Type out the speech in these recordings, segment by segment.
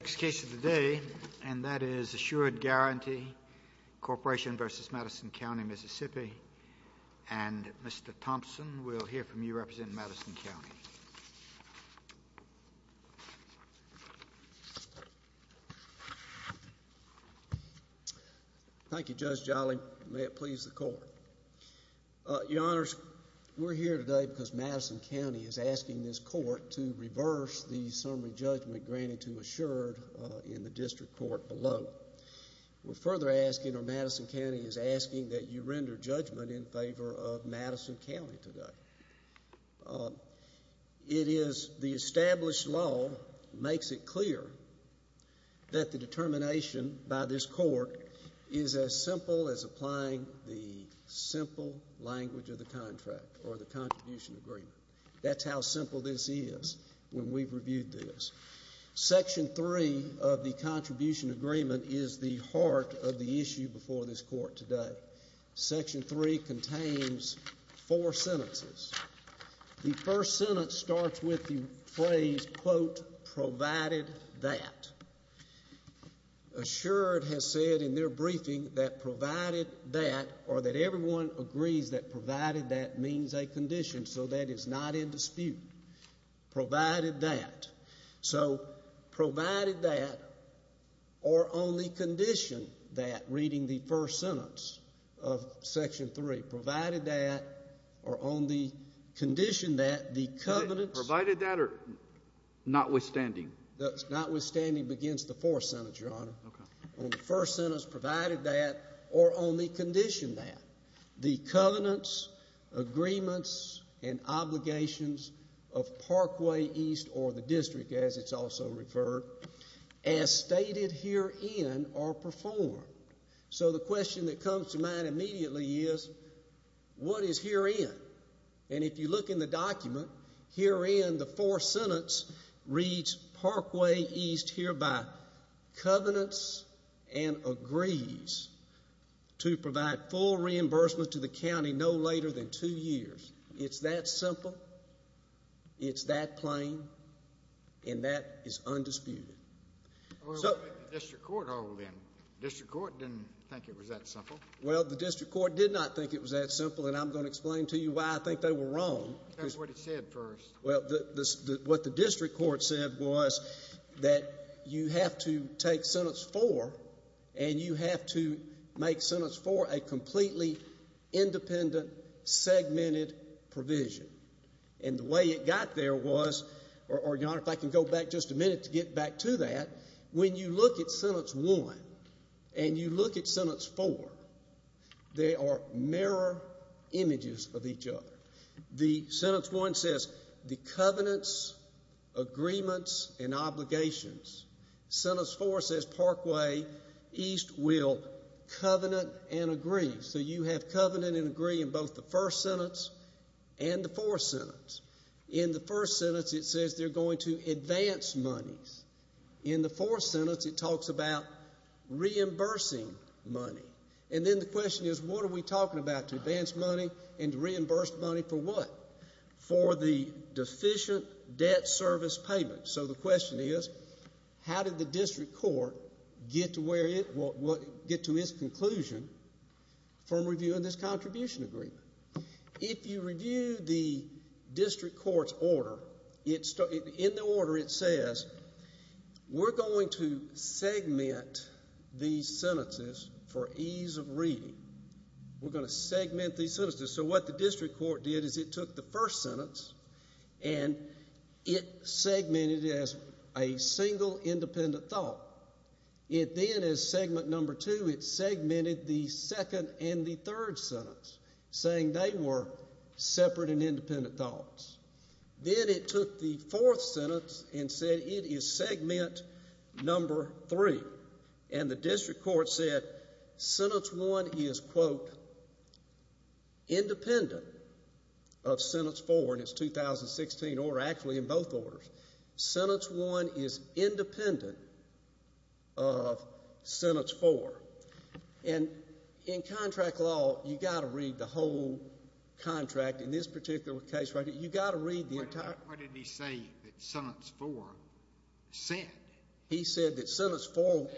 Next case of the day, and that is Assured Guarantee Corporation v. Madison County, Mississippi. And Mr. Thompson, we'll hear from you representing Madison County. Thank you, Judge Jolly. May it please the Court. Your Honors, we're here today because Madison County is asking this Court to reverse the District Court below. We're further asking, or Madison County is asking that you render judgment in favor of Madison County today. The established law makes it clear that the determination by this Court is as simple as applying the simple language of the contract or the contribution agreement. That's how simple this is when we've reviewed this. Section 3 of the contribution agreement is the heart of the issue before this Court today. Section 3 contains four sentences. The first sentence starts with the phrase, quote, provided that. Assured has said in their briefing that provided that, or that everyone agrees that provided that means a condition, so that is not in dispute. Provided that. So provided that, or only condition that, reading the first sentence of Section 3, provided that, or only condition that, the covenants... Provided that or notwithstanding? Notwithstanding begins the fourth sentence, Your Honor. Okay. On the first sentence, provided that, or only condition that, the covenants, agreements, and obligations of Parkway East, or the district as it's also referred, as stated herein are performed. So the question that comes to mind immediately is, what is herein? And if you look in the document, herein, the fourth sentence reads, Parkway East hereby covenants and agrees to provide full reimbursement to the county no later than two years. It's that simple. It's that plain. And that is undisputed. Well, what did the district court hold then? The district court didn't think it was that simple. Well, the district court did not think it was that simple, and I'm going to explain to you why I think they were wrong. That's what it said first. Well, what the district court said was that you have to take sentence four, and you have to make sentence four a completely independent, segmented provision. And the way it got there was, or Your Honor, if I can go back just a minute to get back to that, when you look at sentence one, and you look at sentence four, they are mirror images of each other. The sentence one says, the covenants, agreements, and obligations. Sentence four says, Parkway East will covenant and agree. So you have covenant and agree in both the first sentence and the fourth sentence. In the first sentence, it says they're going to advance monies. In the fourth sentence, it talks about reimbursing money. And then the question is, what are we talking about, to advance money and to reimburse money for what? For the deficient debt service payment. So the question is, how did the district court get to its conclusion from reviewing this contribution agreement? If you review the district court's order, in the order it says, we're going to segment these sentences for ease of reading. We're going to segment these sentences. So what the district court did is it took the first sentence, and it segmented it as a single independent thought. It then, as segment number two, it segmented the second and the third sentence, saying they were separate and independent thoughts. Then it took the fourth sentence and said it is segment number three. And the district court said sentence one is, quote, independent of sentence four in its 2016 order, actually in both orders. Sentence one is independent of sentence four. And in contract law, you've got to read the whole contract. In this particular case, you've got to read the entire contract. What did he say that sentence four said? He said that sentence four.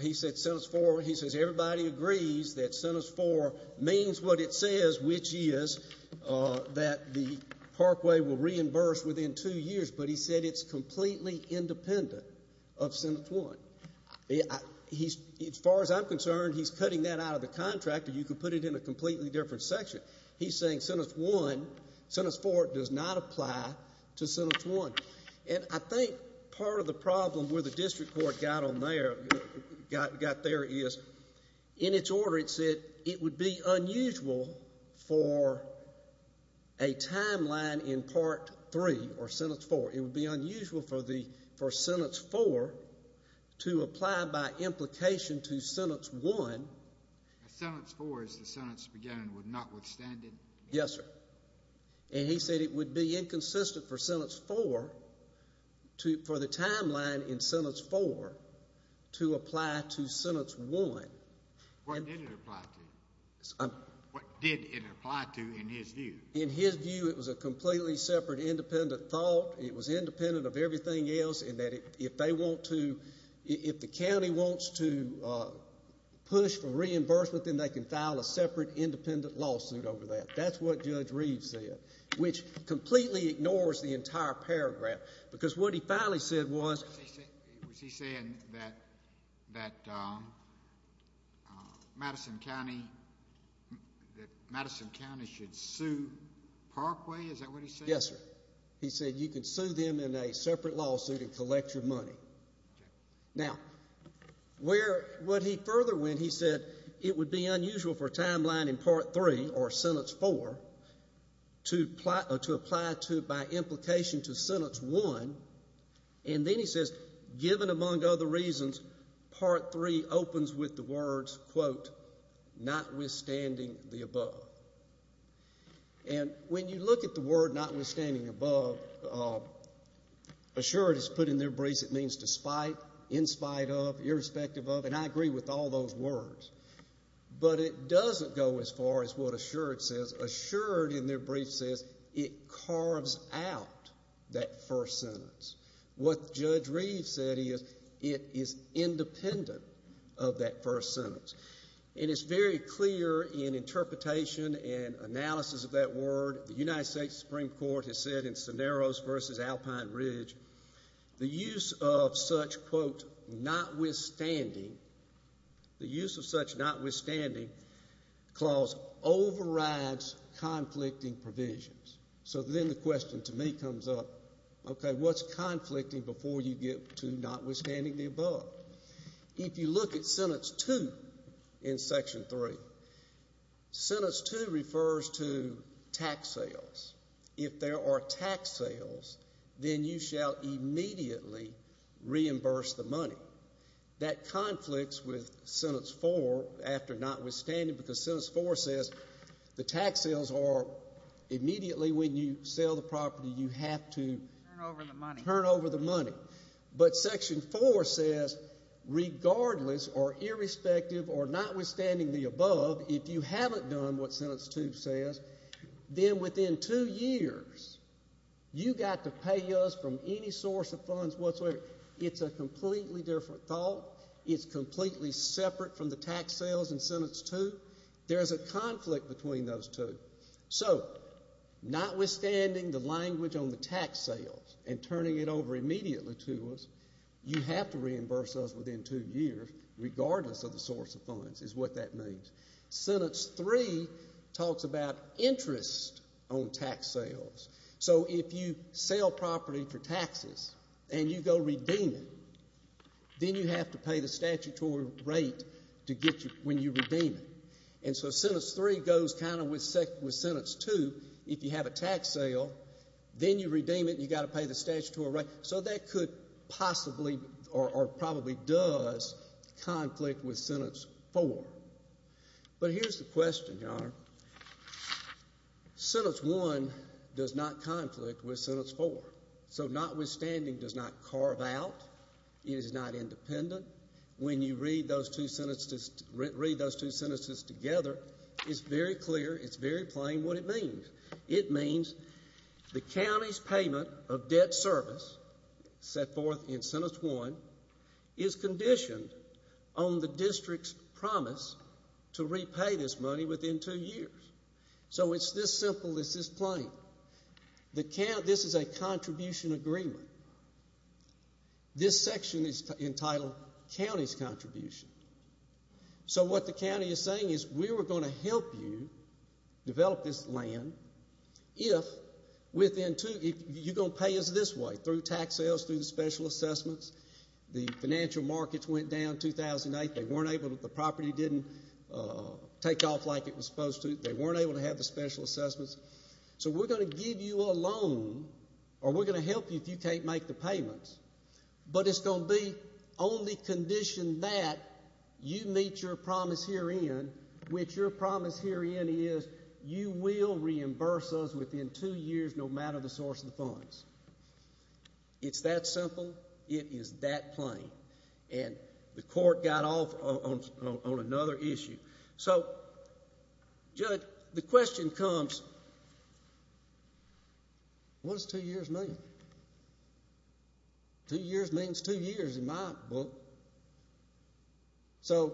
He said sentence four. He says everybody agrees that sentence four means what it says, which is that the Parkway will reimburse within two years. But he said it's completely independent of sentence one. As far as I'm concerned, he's cutting that out of the contract, or you could put it in a completely different section. He's saying sentence one, sentence four does not apply to sentence one. And I think part of the problem where the district court got on there, got there is, in its order, it said it would be unusual for a timeline in part three, or sentence four. It would be unusual for sentence four to apply by implication to sentence one. Sentence four, as the sentence began, would not withstand it? Yes, sir. And he said it would be inconsistent for sentence four, for the timeline in sentence four to apply to sentence one. What did it apply to? What did it apply to in his view? In his view, it was a completely separate, independent thought. It was independent of everything else in that if they want to, if the county wants to push for reimbursement, then they can file a separate, independent lawsuit over that. That's what Judge Reed said, which completely ignores the entire paragraph, because what he finally said was... Was he saying that Madison County should sue Parkway, is that what he said? Yes, sir. He said you can sue them in a separate lawsuit and collect your money. Now, where, what he further went, he said it would be unusual for timeline in part three, or sentence four, to apply to by implication to sentence one, and then he says, given among other reasons, part three opens with the words, quote, notwithstanding the above. And when you look at the word notwithstanding the above, assured is put in their briefs as a means to spite, in spite of, irrespective of, and I agree with all those words. But it doesn't go as far as what assured says. Assured in their brief says it carves out that first sentence. What Judge Reed said is it is independent of that first sentence. And it's very clear in interpretation and analysis of that word, the United States Supreme Court has said in Cineros v. Alpine Ridge, the use of such, quote, notwithstanding, the use of such notwithstanding clause overrides conflicting provisions. So then the question to me comes up, okay, what's conflicting before you get to notwithstanding the above? If you look at sentence two in section three, sentence two refers to tax sales. If there are tax sales, then you shall immediately reimburse the money. That conflicts with sentence four, after notwithstanding, because sentence four says the tax sales are immediately when you sell the property, you have to turn over the money. But section four says regardless or irrespective or notwithstanding the above, if you haven't done what sentence two says, then within two years, you've got to pay us from any source of funds whatsoever. It's a completely different thought. It's completely separate from the tax sales in sentence two. There's a conflict between those two. So notwithstanding the language on the tax sales and turning it over immediately to us, you have to reimburse us within two years, regardless of the source of funds is what that means. Sentence three talks about interest on tax sales. So if you sell property for taxes and you go redeem it, then you have to pay the statutory rate to get you when you redeem it. And so sentence three goes kind of with sentence two. If you have a tax sale, then you redeem it and you've got to pay the statutory rate. So that could possibly or probably does conflict with sentence four. But here's the question, Your Honor. Sentence one does not conflict with sentence four. So notwithstanding does not carve out, it is not independent. When you read those two sentences together, it's very clear, it's very plain what it means. It means the county's payment of debt service set forth in sentence one is conditioned on the district's promise to repay this money within two years. So it's this simple, it's this plain. This is a contribution agreement. This section is entitled county's contribution. So what the county is saying is we were going to help you develop this land if within two, you're going to pay us this way, through tax sales, through the special assessments. The financial markets went down in 2008. They weren't able to, the property didn't take off like it was supposed to. They weren't able to have the special assessments. So we're going to give you a loan, or we're going to help you if you can't make the payments, but it's going to be only conditioned that you meet your promise herein, which your promise herein is you will reimburse us within two years no matter the source of the funds. It's that simple. It is that plain. And the court got off on another issue. So, Judge, the question comes, what does two years mean? Two years means two years in my book. So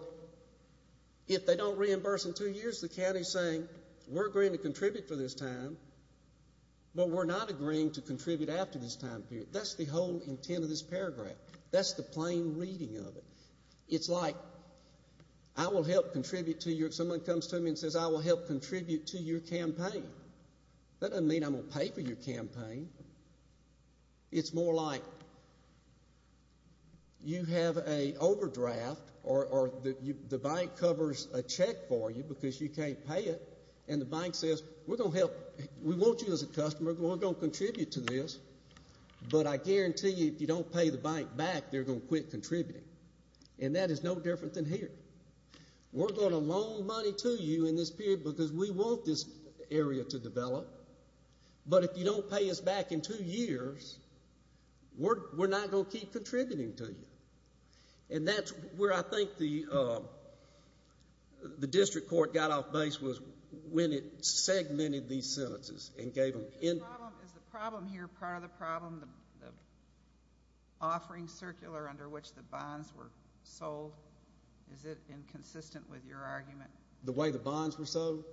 if they don't reimburse in two years, the county is saying we're agreeing to contribute for this time, but we're not agreeing to contribute after this time period. That's the whole intent of this paragraph. That's the plain reading of it. It's like I will help contribute to your, if someone comes to me and says I will help contribute to your campaign, that doesn't mean I'm going to pay for your campaign. It's more like you have an overdraft or the bank covers a check for you because you can't pay it and the bank says we're going to help, we want you as a customer, we're going to contribute to this, but I guarantee you if you don't pay the bank back, they're going to quit contributing. And that is no different than here. We're going to loan money to you in this period because we want this area to develop, but if you don't pay us back in two years, we're not going to keep contributing to you. And that's where I think the district court got off base was when it segmented these sentences and gave them in. Is the problem here part of the problem, the offering circular under which the bonds were sold? Is it inconsistent with your argument? The way the bonds were sold?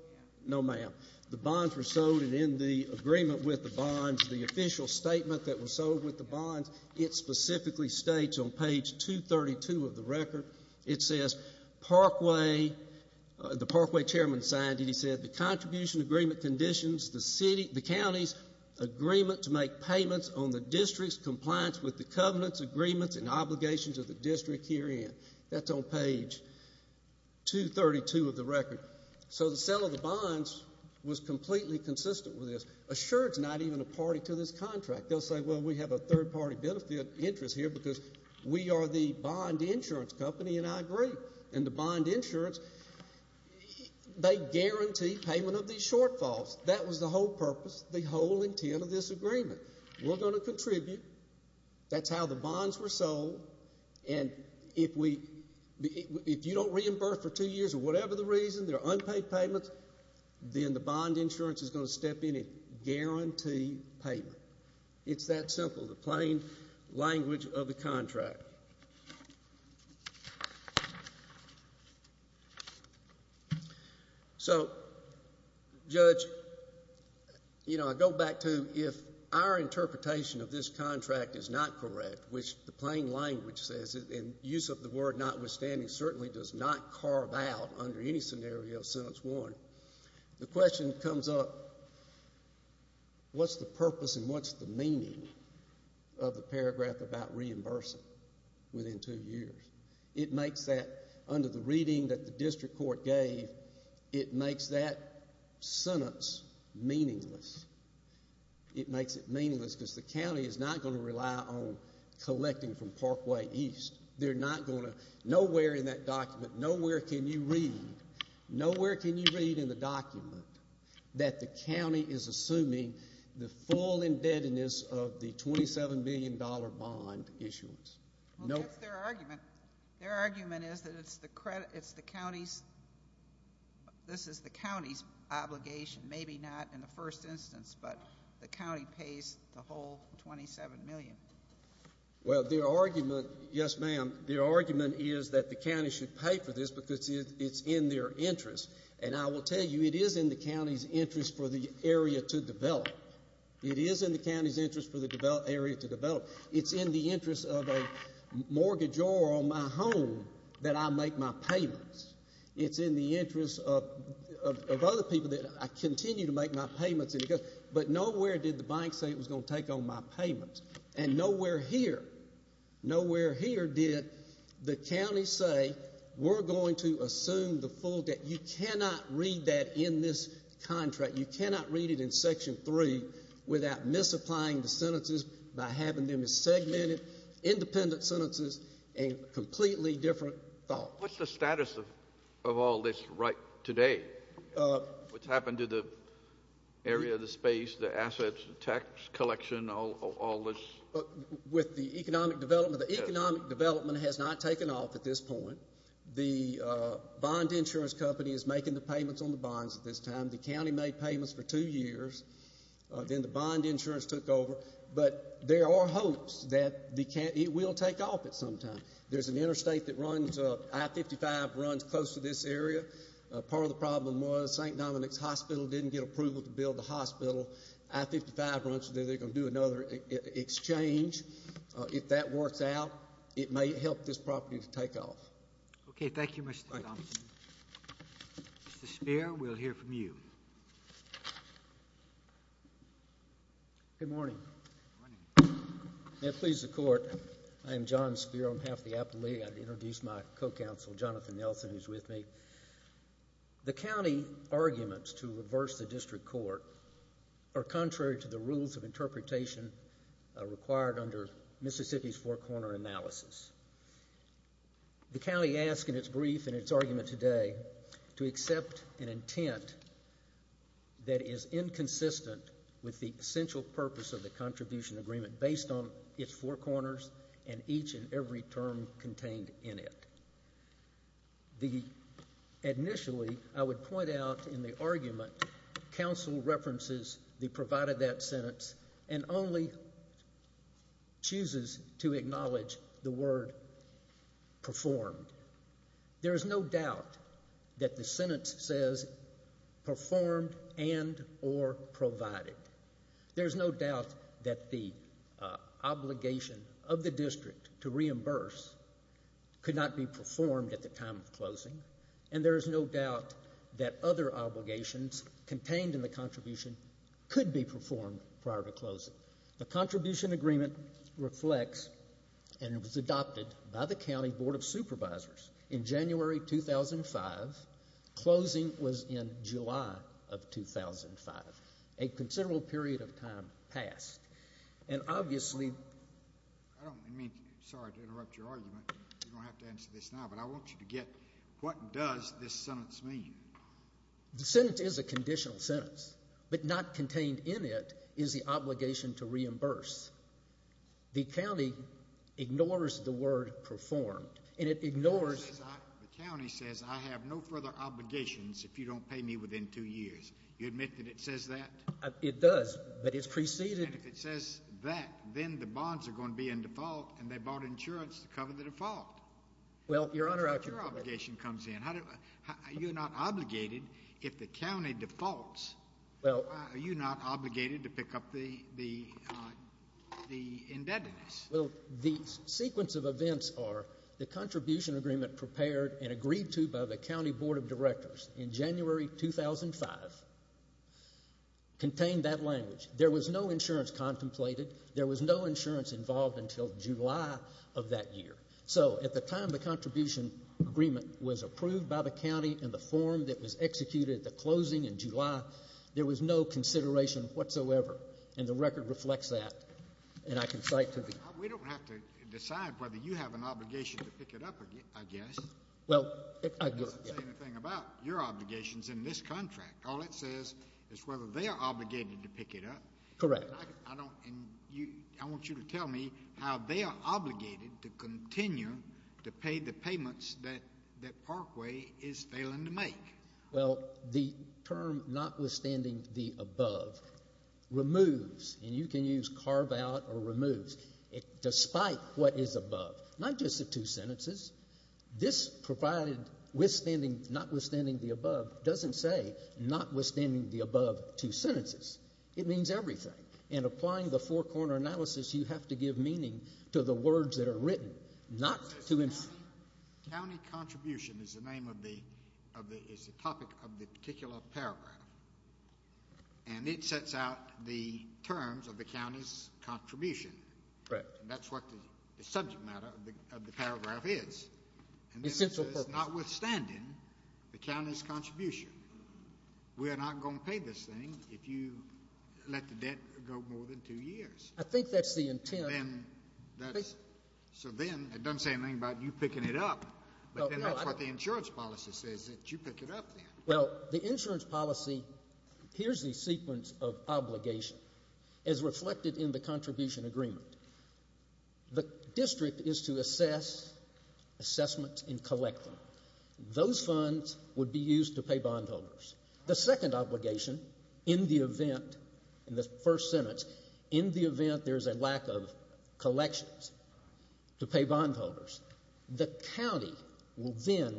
No, ma'am. The bonds were sold and in the agreement with the bonds, the official statement that was sold with the bonds, it specifically states on page 232 of the record, it says Parkway, the Parkway chairman signed it, and said the contribution agreement conditions the county's agreement to make payments on the district's compliance with the covenant's agreements and obligations of the district herein. That's on page 232 of the record. So the sale of the bonds was completely consistent with this. Assured it's not even a party to this contract. They'll say, well, we have a third-party benefit interest here because we are the bond insurance company, and I agree. And the bond insurance, they guarantee payment of these shortfalls. That was the whole purpose, the whole intent of this agreement. We're going to contribute. That's how the bonds were sold. And if we, if you don't reimburse for two years or whatever the reason, they're unpaid payments, then the bond insurance is going to step in and guarantee payment. It's that simple. The plain language of the contract. So, Judge, you know, I go back to if our interpretation of this contract is not correct, which the plain language says, in use of the word notwithstanding, certainly does not carve out under any scenario, the question comes up, what's the purpose and what's the meaning of the paragraph about reimbursing within two years? It makes that, under the reading that the district court gave, it makes that sentence meaningless. It makes it meaningless because the county is not going to rely on collecting from Parkway East. They're not going to, nowhere in that document, nowhere can you read, nowhere can you read in the document that the county is assuming the full indebtedness of the $27 million bond issuance. Well, that's their argument. Their argument is that it's the county's, this is the county's obligation, maybe not in the first instance, but the county pays the whole $27 million. Well, their argument, yes, ma'am, their argument is that the county should pay for this because it's in their interest. And I will tell you, it is in the county's interest for the area to develop. It is in the county's interest for the area to develop. It's in the interest of a mortgagor on my home that I make my payments. It's in the interest of other people that I continue to make my payments, but nowhere did the bank say it was going to take on my payments. And nowhere here, nowhere here did the county say we're going to assume the full debt. You cannot read that in this contract. You cannot read it in Section 3 without misapplying the sentences by having them as segmented, independent sentences and completely different thoughts. What's the status of all this right today? What's happened to the area, the space, the assets, the tax collection, all this? With the economic development, the economic development has not taken off at this point. The bond insurance company is making the payments on the bonds at this time. The county made payments for two years. Then the bond insurance took over. But there are hopes that it will take off at some time. There's an interstate that runs up. I-55 runs close to this area. Part of the problem was St. Dominic's Hospital didn't get approval to build the hospital. I-55 runs there. They're going to do another exchange. If that works out, it may help this property to take off. Okay, thank you, Mr. Thompson. Mr. Speier, we'll hear from you. Good morning. May it please the Court. I am John Speier. I'm half the appellee. I'd introduce my co-counsel, Jonathan Nelson, who's with me. The county arguments to reverse the district court are contrary to the rules of interpretation required under Mississippi's four-corner analysis. The county asked in its brief and its argument today to accept an intent that is inconsistent with the essential purpose of the contribution agreement based on its four corners and each and every term contained in it. Initially, I would point out in the argument, counsel references the provided that sentence and only chooses to acknowledge the word performed. There is no doubt that the sentence says performed and or provided. There is no doubt that the obligation of the district to reimburse could not be performed at the time of closing, and there is no doubt that other obligations contained in the contribution could be performed prior to closing. The contribution agreement reflects and was adopted by the county board of supervisors in January 2005. Closing was in July of 2005. A considerable period of time passed. And obviously, I don't mean to interrupt your argument. You don't have to answer this now, but I want you to get what does this sentence mean. The sentence is a conditional sentence, but not contained in it is the obligation to reimburse. The county ignores the word performed, and it ignores— The county says I have no further obligations if you don't pay me within two years. You admit that it says that? It does, but it's preceded— And if it says that, then the bonds are going to be in default, and they bought insurance to cover the default. Well, Your Honor— Your obligation comes in. You're not obligated if the county defaults. Well— Are you not obligated to pick up the indebtedness? Well, the sequence of events are the contribution agreement prepared and agreed to by the county board of directors in January 2005 contained that language. There was no insurance contemplated. There was no insurance involved until July of that year. So at the time the contribution agreement was approved by the county and the form that was executed at the closing in July, there was no consideration whatsoever, and the record reflects that, and I can cite to the— We don't have to decide whether you have an obligation to pick it up, I guess. Well, I— It doesn't say anything about your obligations in this contract. All it says is whether they are obligated to pick it up. Correct. I want you to tell me how they are obligated to continue to pay the payments that Parkway is failing to make. Well, the term notwithstanding the above removes, and you can use carve out or removes, despite what is above, not just the two sentences. This provided notwithstanding the above doesn't say notwithstanding the above two sentences. It means everything, and applying the four-corner analysis, you have to give meaning to the words that are written, not to— County contribution is the name of the—is the topic of the particular paragraph, and it sets out the terms of the county's contribution. Correct. That's what the subject matter of the paragraph is. Essential purpose. Notwithstanding the county's contribution. We are not going to pay this thing if you let the debt go more than two years. I think that's the intent. Then that's—so then it doesn't say anything about you picking it up, but then that's what the insurance policy says, that you pick it up then. Well, the insurance policy—here's the sequence of obligation as reflected in the contribution agreement. The district is to assess, assessment, and collect them. Those funds would be used to pay bondholders. The second obligation in the event, in the first sentence, in the event there's a lack of collections to pay bondholders, the county will then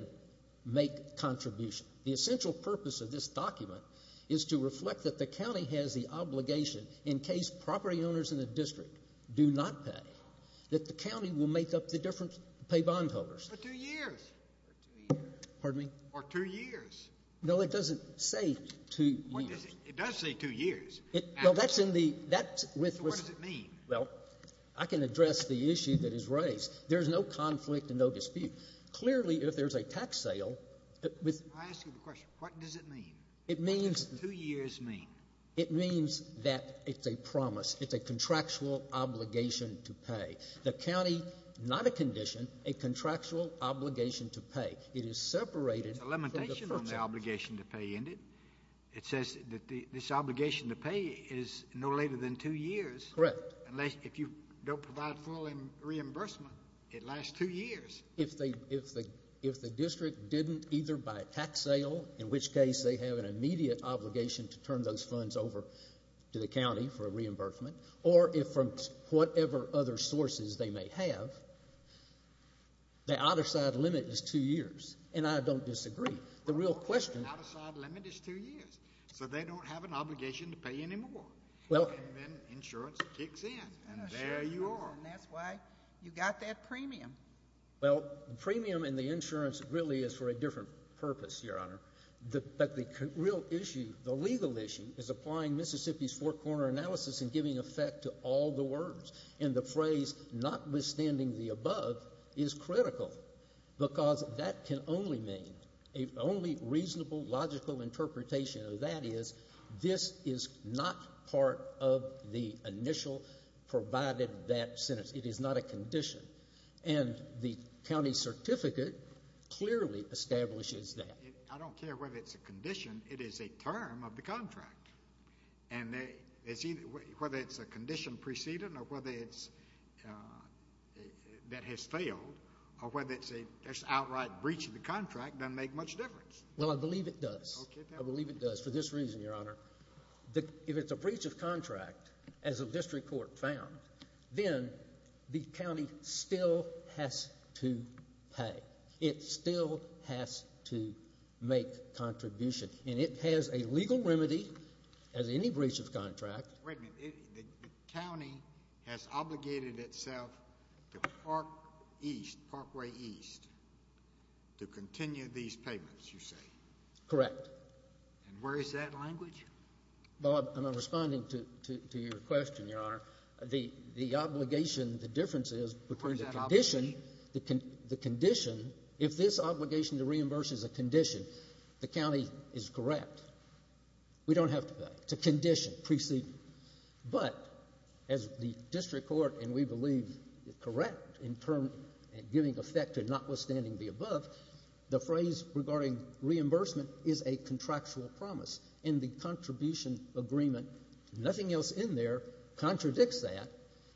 make contribution. The essential purpose of this document is to reflect that the county has the obligation, in case property owners in the district do not pay, that the county will make up the difference to pay bondholders. For two years. For two years. Pardon me? For two years. No, it doesn't say two years. It does say two years. Well, that's in the— So what does it mean? Well, I can address the issue that is raised. There's no conflict and no dispute. Clearly, if there's a tax sale— I ask you the question. What does it mean? It means— What does two years mean? It means that it's a promise. It's a contractual obligation to pay. The county, not a condition, a contractual obligation to pay. It is separated from the purchase. There's a limitation on the obligation to pay, isn't it? It says that this obligation to pay is no later than two years. Correct. Unless—if you don't provide full reimbursement, it lasts two years. If the district didn't either buy a tax sale, in which case they have an immediate obligation to turn those funds over to the county for reimbursement, or from whatever other sources they may have, the outer side limit is two years, and I don't disagree. The real question— Well, the outer side limit is two years, so they don't have an obligation to pay anymore. And then insurance kicks in, and there you are. And that's why you got that premium. Well, the premium and the insurance really is for a different purpose, Your Honor. But the real issue, the legal issue, is applying Mississippi's four-corner analysis and giving effect to all the words. And the phrase, notwithstanding the above, is critical, because that can only mean—the only reasonable, logical interpretation of that is this is not part of the initial provided that sentence. It is not a condition. And the county certificate clearly establishes that. I don't care whether it's a condition. It is a term of the contract. And whether it's a condition preceding or whether it's—that has failed, or whether it's an outright breach of the contract doesn't make much difference. Well, I believe it does. Okay. I believe it does for this reason, Your Honor. If it's a breach of contract, as the district court found, then the county still has to pay. It still has to make contribution. And it has a legal remedy as any breach of contract. Wait a minute. The county has obligated itself to Park East, Parkway East, to continue these payments, you say? Correct. And where is that language? Bob, I'm not responding to your question, Your Honor. The obligation, the difference is— Where is that obligation? The condition, if this obligation to reimburse is a condition, the county is correct. We don't have to pay. It's a condition preceding. But as the district court, and we believe, correct in giving effect to notwithstanding the above, the phrase regarding reimbursement is a contractual promise. And the contribution agreement, nothing else in there, contradicts that.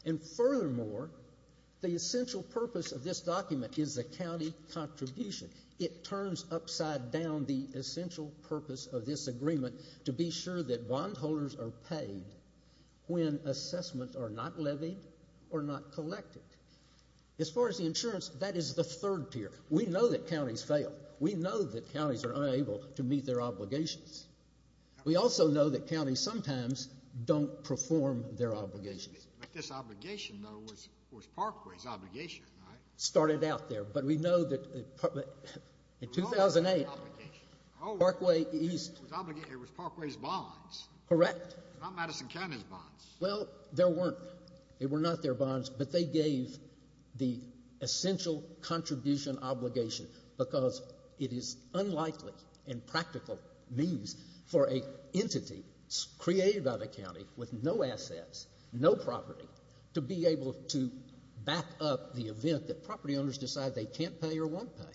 And furthermore, the essential purpose of this document is the county contribution. It turns upside down the essential purpose of this agreement to be sure that bondholders are paid when assessments are not levied or not collected. As far as the insurance, that is the third tier. We know that counties fail. We know that counties are unable to meet their obligations. We also know that counties sometimes don't perform their obligations. But this obligation, though, was Parkway's obligation, right? It started out there. But we know that in 2008, Parkway East— It was Parkway's bonds. Correct. Not Madison County's bonds. Well, there weren't. They were not their bonds. But they gave the essential contribution obligation because it is unlikely and practical means for an entity created by the county with no assets, no property, to be able to back up the event that property owners decide they can't pay or won't pay.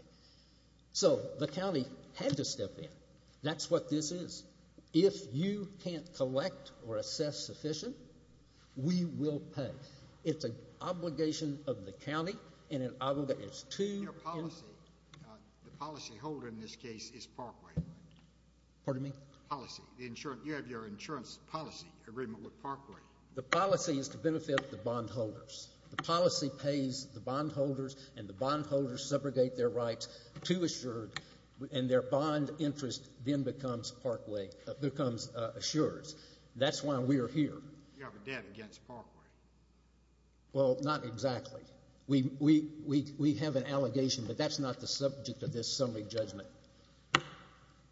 So the county had to step in. That's what this is. If you can't collect or assess sufficient, we will pay. It's an obligation of the county and an obligation to— The policyholder in this case is Parkway. Pardon me? Policy. You have your insurance policy agreement with Parkway. The policy is to benefit the bondholders. The policy pays the bondholders, and the bondholders subrogate their rights to Assured, and their bond interest then becomes Assured's. That's why we're here. You have a debt against Parkway. Well, not exactly. We have an allegation, but that's not the subject of this summary judgment.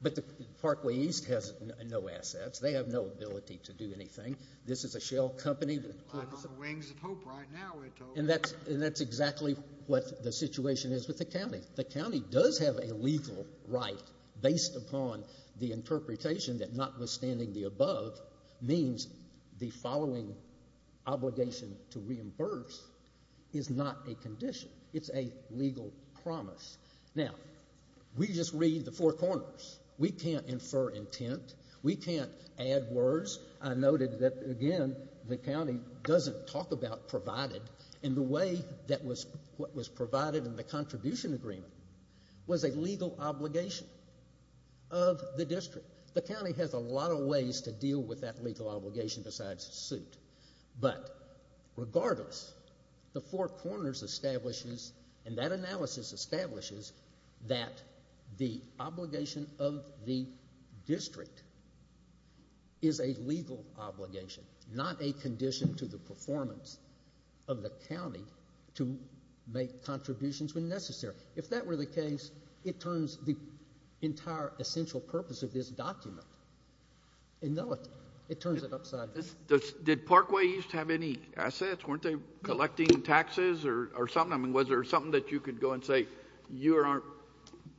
But Parkway East has no assets. They have no ability to do anything. This is a shell company. I'm on the wings of hope right now. And that's exactly what the situation is with the county. The county does have a legal right based upon the interpretation that notwithstanding the above means the following obligation to reimburse is not a condition. It's a legal promise. Now, we just read the four corners. We can't infer intent. We can't add words. I noted that, again, the county doesn't talk about provided, and the way that was provided in the contribution agreement was a legal obligation of the district. The county has a lot of ways to deal with that legal obligation besides suit. But regardless, the four corners establishes, and that analysis establishes, that the obligation of the district is a legal obligation, not a condition to the performance of the county to make contributions when necessary. If that were the case, it turns the entire essential purpose of this document. It turns it upside down. Did Parkway East have any assets? Weren't they collecting taxes or something? I mean, was there something that you could go and say you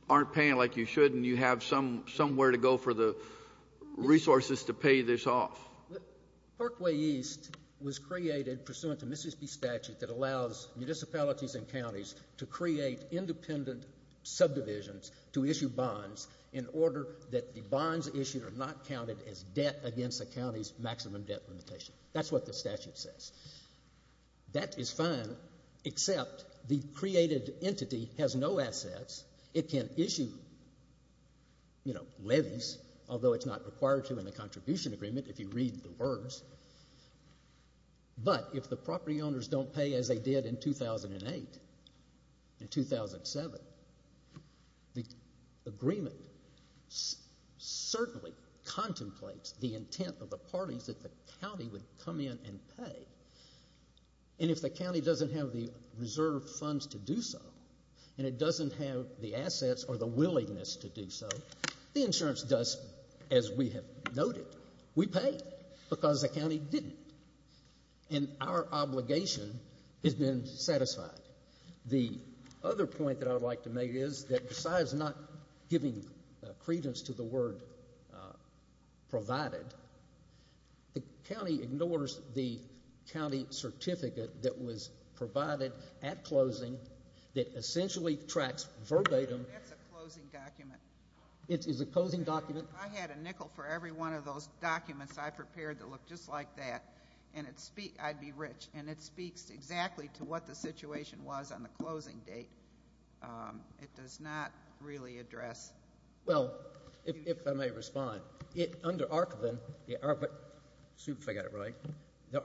aren't paying like you should and you have somewhere to go for the resources to pay this off? Parkway East was created pursuant to Mississippi statute that allows municipalities and counties to create independent subdivisions to issue bonds in order that the bonds issued are not counted as debt against a county's maximum debt limitation. That's what the statute says. That is fine, except the created entity has no assets. It can issue, you know, levies, although it's not required to in the contribution agreement if you read the words. But if the property owners don't pay as they did in 2008 and 2007, the agreement certainly contemplates the intent of the parties that the county would come in and pay. And if the county doesn't have the reserve funds to do so and it doesn't have the assets or the willingness to do so, the insurance does, as we have noted, we pay because the county didn't and our obligation has been satisfied. The other point that I would like to make is that besides not giving credence to the word provided, the county ignores the county certificate that was provided at closing that essentially tracks verbatim. That's a closing document. It is a closing document. If I had a nickel for every one of those documents I prepared that looked just like that, I'd be rich. And it speaks exactly to what the situation was on the closing date. It does not really address. Well, if I may respond. Under Archvin, excuse me if I got it right, the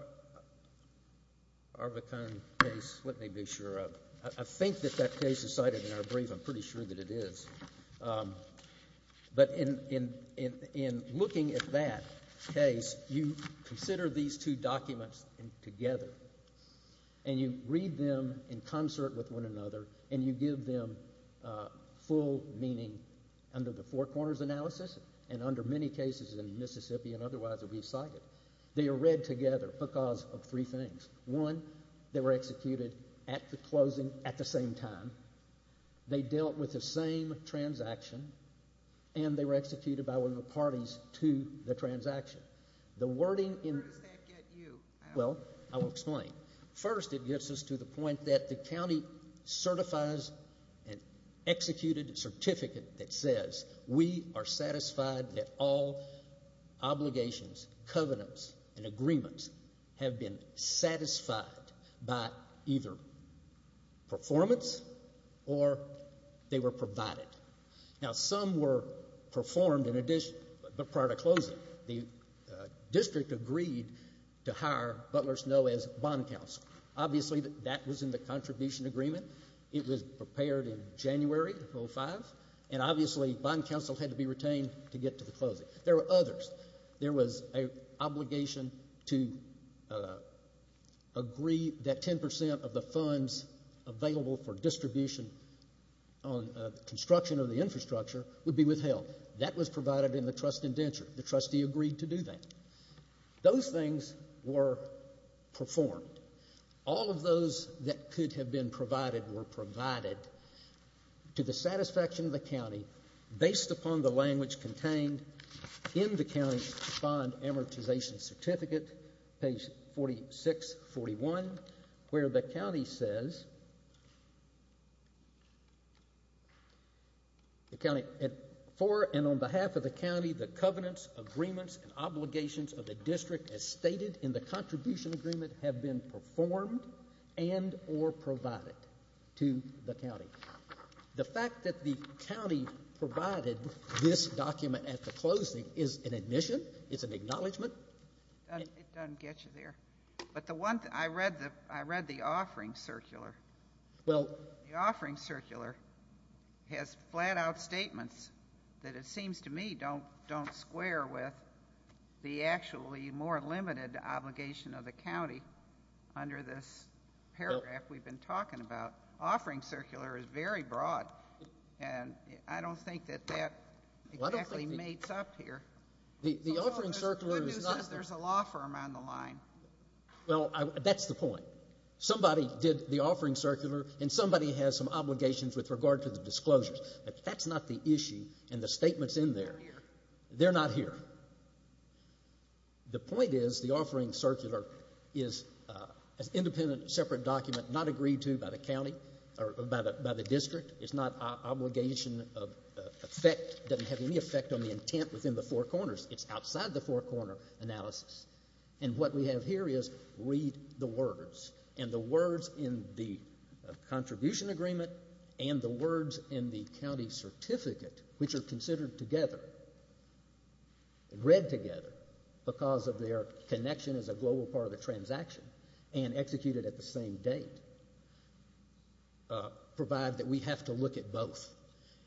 Arvitone case, let me be sure. I think that that case is cited in our brief. I'm pretty sure that it is. But in looking at that case, you consider these two documents together and you read them in concert with one another and you give them full meaning under the Four Corners analysis and under many cases in Mississippi and otherwise that we cited. They are read together because of three things. One, they were executed at the closing at the same time. They dealt with the same transaction. And they were executed by one of the parties to the transaction. Where does that get you? Well, I will explain. First, it gets us to the point that the county certifies an executed certificate that says we are satisfied that all obligations, covenants, and agreements have been satisfied by either performance or they were provided. Now, some were performed in addition but prior to closing. The district agreed to hire Butler Snow as bond counsel. Obviously, that was in the contribution agreement. It was prepared in January of 2005. And obviously, bond counsel had to be retained to get to the closing. There were others. There was an obligation to agree that 10% of the funds available for distribution on construction of the infrastructure would be withheld. That was provided in the trust indenture. The trustee agreed to do that. Those things were performed. All of those that could have been provided were provided to the satisfaction of the county based upon the language contained in the county's bond amortization certificate, page 4641, where the county says for and on behalf of the county, the covenants, agreements, and obligations of the district as stated in the contribution agreement have been performed and or provided to the county. The fact that the county provided this document at the closing is an admission. It's an acknowledgment. It doesn't get you there. But the one thing, I read the offering circular. The offering circular has flat-out statements that it seems to me don't square with the actually more limited obligation of the county under this paragraph we've been talking about. The offering circular is very broad, and I don't think that that exactly meets up here. The offering circular is not. There's a law firm on the line. Well, that's the point. Somebody did the offering circular, and somebody has some obligations with regard to the disclosures. That's not the issue, and the statement's in there. They're not here. The point is the offering circular is an independent, separate document, not agreed to by the county or by the district. It's not obligation of effect. It doesn't have any effect on the intent within the four corners. It's outside the four-corner analysis. And what we have here is read the words, and the words in the contribution agreement and the words in the county certificate, which are considered together and read together because of their connection as a global part of the transaction and executed at the same date, provide that we have to look at both.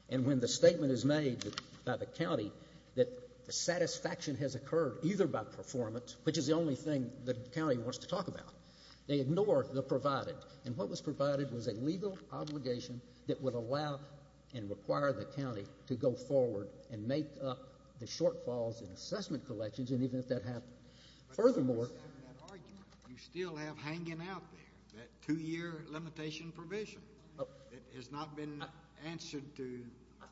And when the statement is made by the county that the satisfaction has occurred either by performance, which is the only thing the county wants to talk about, they ignore the provided. And what was provided was a legal obligation that would allow and require the county to go forward and make up the shortfalls in assessment collections, and even if that happened. Furthermore, you still have hanging out there that two-year limitation provision. It has not been answered to.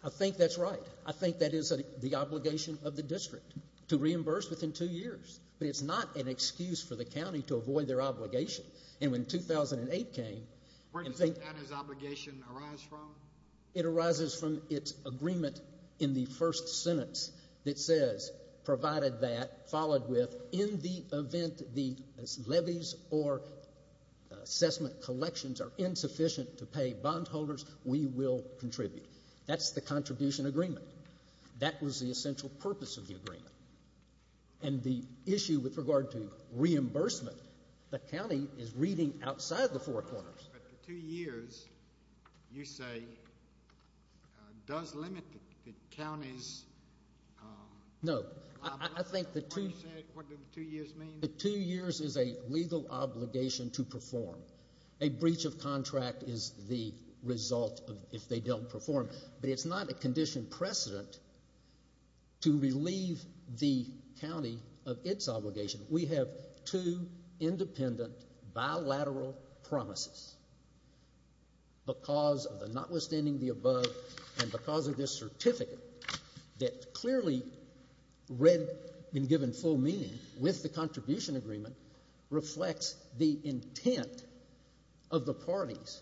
I think that's right. I think that is the obligation of the district to reimburse within two years. But it's not an excuse for the county to avoid their obligation. And when 2008 came. Where does that obligation arise from? It arises from its agreement in the first sentence that says, provided that, followed with, in the event the levies or assessment collections are insufficient to pay bondholders, we will contribute. That's the contribution agreement. That was the essential purpose of the agreement. And the issue with regard to reimbursement, the county is reading outside the four corners. But the two years, you say, does limit the county's. No. I think the two. What do the two years mean? The two years is a legal obligation to perform. A breach of contract is the result if they don't perform. But it's not a condition precedent to relieve the county of its obligation. We have two independent bilateral promises because of the notwithstanding the above and because of this certificate that clearly read and given full meaning with the contribution agreement reflects the intent of the parties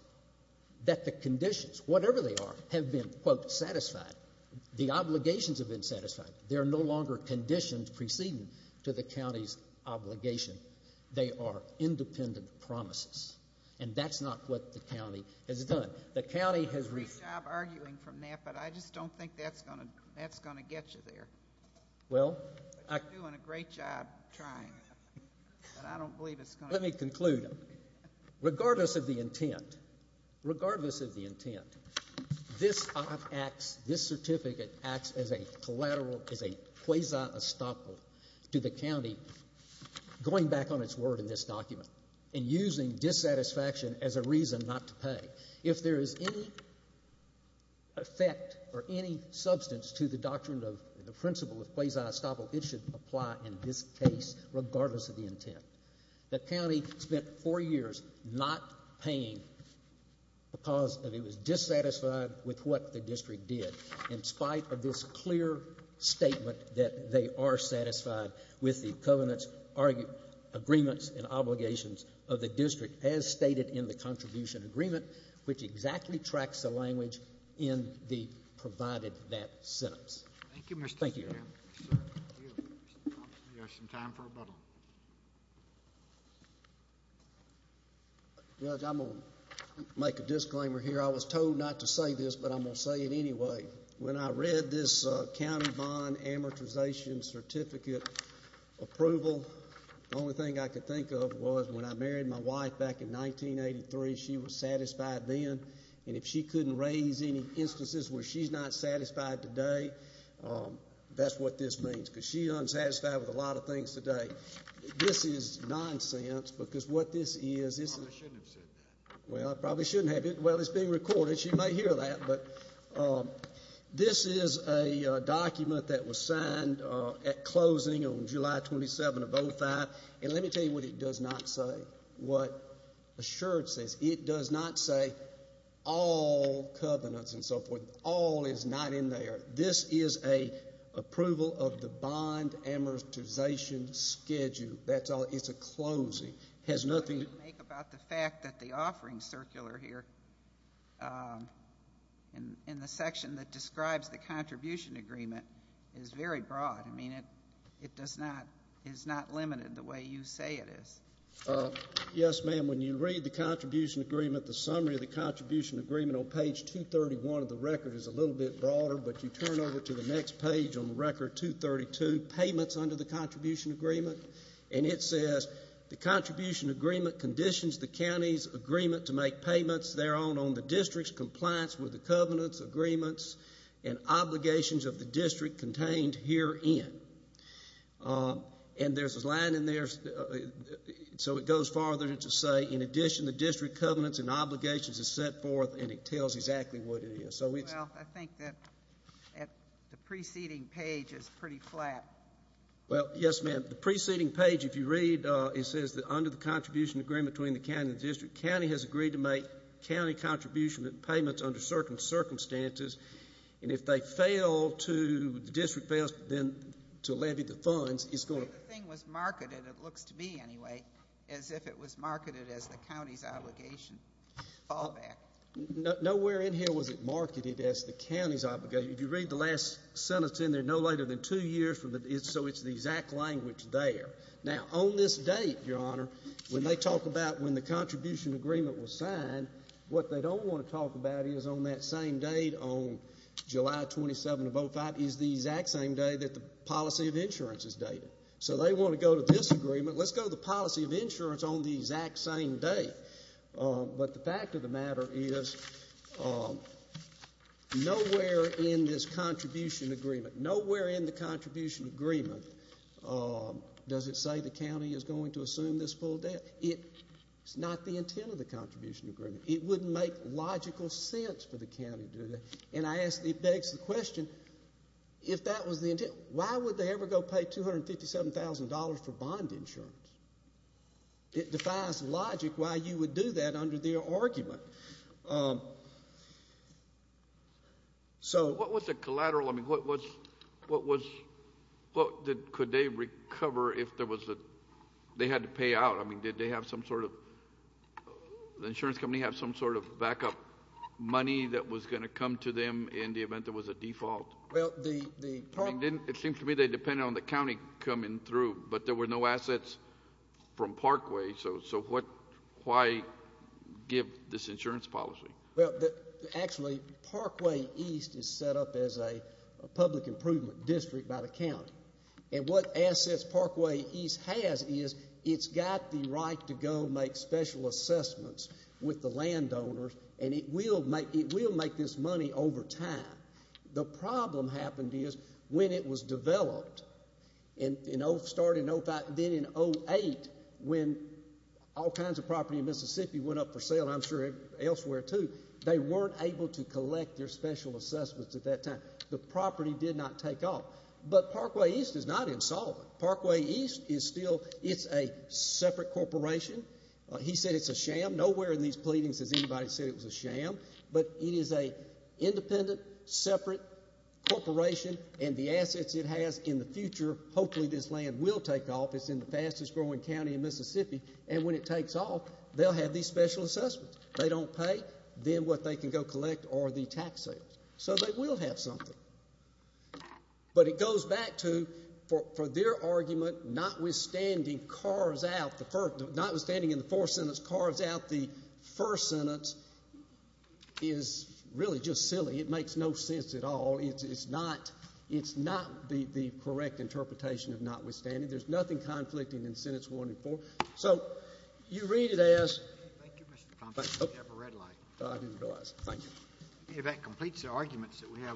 that the conditions, whatever they are, have been, quote, satisfied. The obligations have been satisfied. They are no longer conditions preceding to the county's obligation. They are independent promises. And that's not what the county has done. The county has. You're doing a great job arguing from that, but I just don't think that's going to get you there. Well. You're doing a great job trying, but I don't believe it's going to get you there. Let me conclude. Regardless of the intent, regardless of the intent, this certificate acts as a quasi-estoppel to the county going back on its word in this document and using dissatisfaction as a reason not to pay. If there is any effect or any substance to the doctrine of the principle of quasi-estoppel, it should apply in this case regardless of the intent. The county spent four years not paying because it was dissatisfied with what the district did. In spite of this clear statement that they are satisfied with the covenant's agreements and obligations of the district as stated in the contribution agreement, which exactly tracks the language in the provided that sentence. Thank you, Mr. Chairman. Thank you. We have some time for rebuttal. Judge, I'm going to make a disclaimer here. I was told not to say this, but I'm going to say it anyway. When I read this county bond amortization certificate approval, the only thing I could think of was when I married my wife back in 1983, she was satisfied then, and if she couldn't raise any instances where she's not satisfied today, that's what this means, because she's unsatisfied with a lot of things today. This is nonsense because what this is, this is. You probably shouldn't have said that. Well, I probably shouldn't have. Well, it's being recorded. You may hear that, but this is a document that was signed at closing on July 27 of 2005, and let me tell you what it does not say, what Assured says. It does not say all covenants and so forth. All is not in there. This is an approval of the bond amortization schedule. That's all. It's a closing. It has nothing to make about the fact that the offering circular here in the section that describes the contribution agreement is very broad. I mean, it does not, is not limited the way you say it is. Yes, ma'am. When you read the contribution agreement, the summary of the contribution agreement on page 231 of the record is a little bit broader, but you turn over to the next page on the record 232, payments under the contribution agreement, and it says the contribution agreement conditions the county's agreement to make payments thereon on the district's compliance with the covenants, agreements, and obligations of the district contained herein. And there's a line in there, so it goes farther to say, in addition, the district covenants and obligations are set forth, and it tells exactly what it is. Well, I think that the preceding page is pretty flat. Well, yes, ma'am. The preceding page, if you read, it says that under the contribution agreement between the county and the district, county has agreed to make county contribution payments under certain circumstances, and if they fail to, the district fails then to levy the funds, it's going to. The thing was marketed, it looks to be anyway, as if it was marketed as the county's obligation fallback. Nowhere in here was it marketed as the county's obligation. If you read the last sentence in there, no later than two years, so it's the exact language there. Now, on this date, Your Honor, when they talk about when the contribution agreement was signed, what they don't want to talk about is on that same date, on July 27 of 2005, is the exact same day that the policy of insurance is dated. So they want to go to this agreement. Let's go to the policy of insurance on the exact same date. But the fact of the matter is nowhere in this contribution agreement, nowhere in the contribution agreement does it say the county is going to assume this full debt. It's not the intent of the contribution agreement. It wouldn't make logical sense for the county to do that. And I ask, it begs the question, if that was the intent, why would they ever go pay $257,000 for bond insurance? It defies logic why you would do that under their argument. So what was the collateral? I mean, what was, could they recover if there was a, they had to pay out? I mean, did they have some sort of, the insurance company have some sort of backup money that was going to come to them in the event there was a default? It seems to me they depended on the county coming through, but there were no assets from Parkway. So why give this insurance policy? Well, actually, Parkway East is set up as a public improvement district by the county. And what assets Parkway East has is it's got the right to go make special assessments with the landowners, and it will make this money over time. The problem happened is when it was developed in, you know, starting in 05, then in 08, when all kinds of property in Mississippi went up for sale, and I'm sure elsewhere too, they weren't able to collect their special assessments at that time. The property did not take off. But Parkway East is not insolvent. Parkway East is still, it's a separate corporation. He said it's a sham. Nowhere in these pleadings has anybody said it was a sham. But it is an independent, separate corporation, and the assets it has in the future, hopefully this land will take off. It's in the fastest growing county in Mississippi. And when it takes off, they'll have these special assessments. They don't pay. Then what they can go collect are the tax sales. So they will have something. But it goes back to, for their argument, notwithstanding, notwithstanding in the fourth sentence carves out the first sentence is really just silly. It makes no sense at all. It's not the correct interpretation of notwithstanding. There's nothing conflicting in sentence one and four. So you read it as— Thank you, Mr. Thompson. You have a red light. Oh, I didn't realize. Thank you. If that completes the arguments that we have—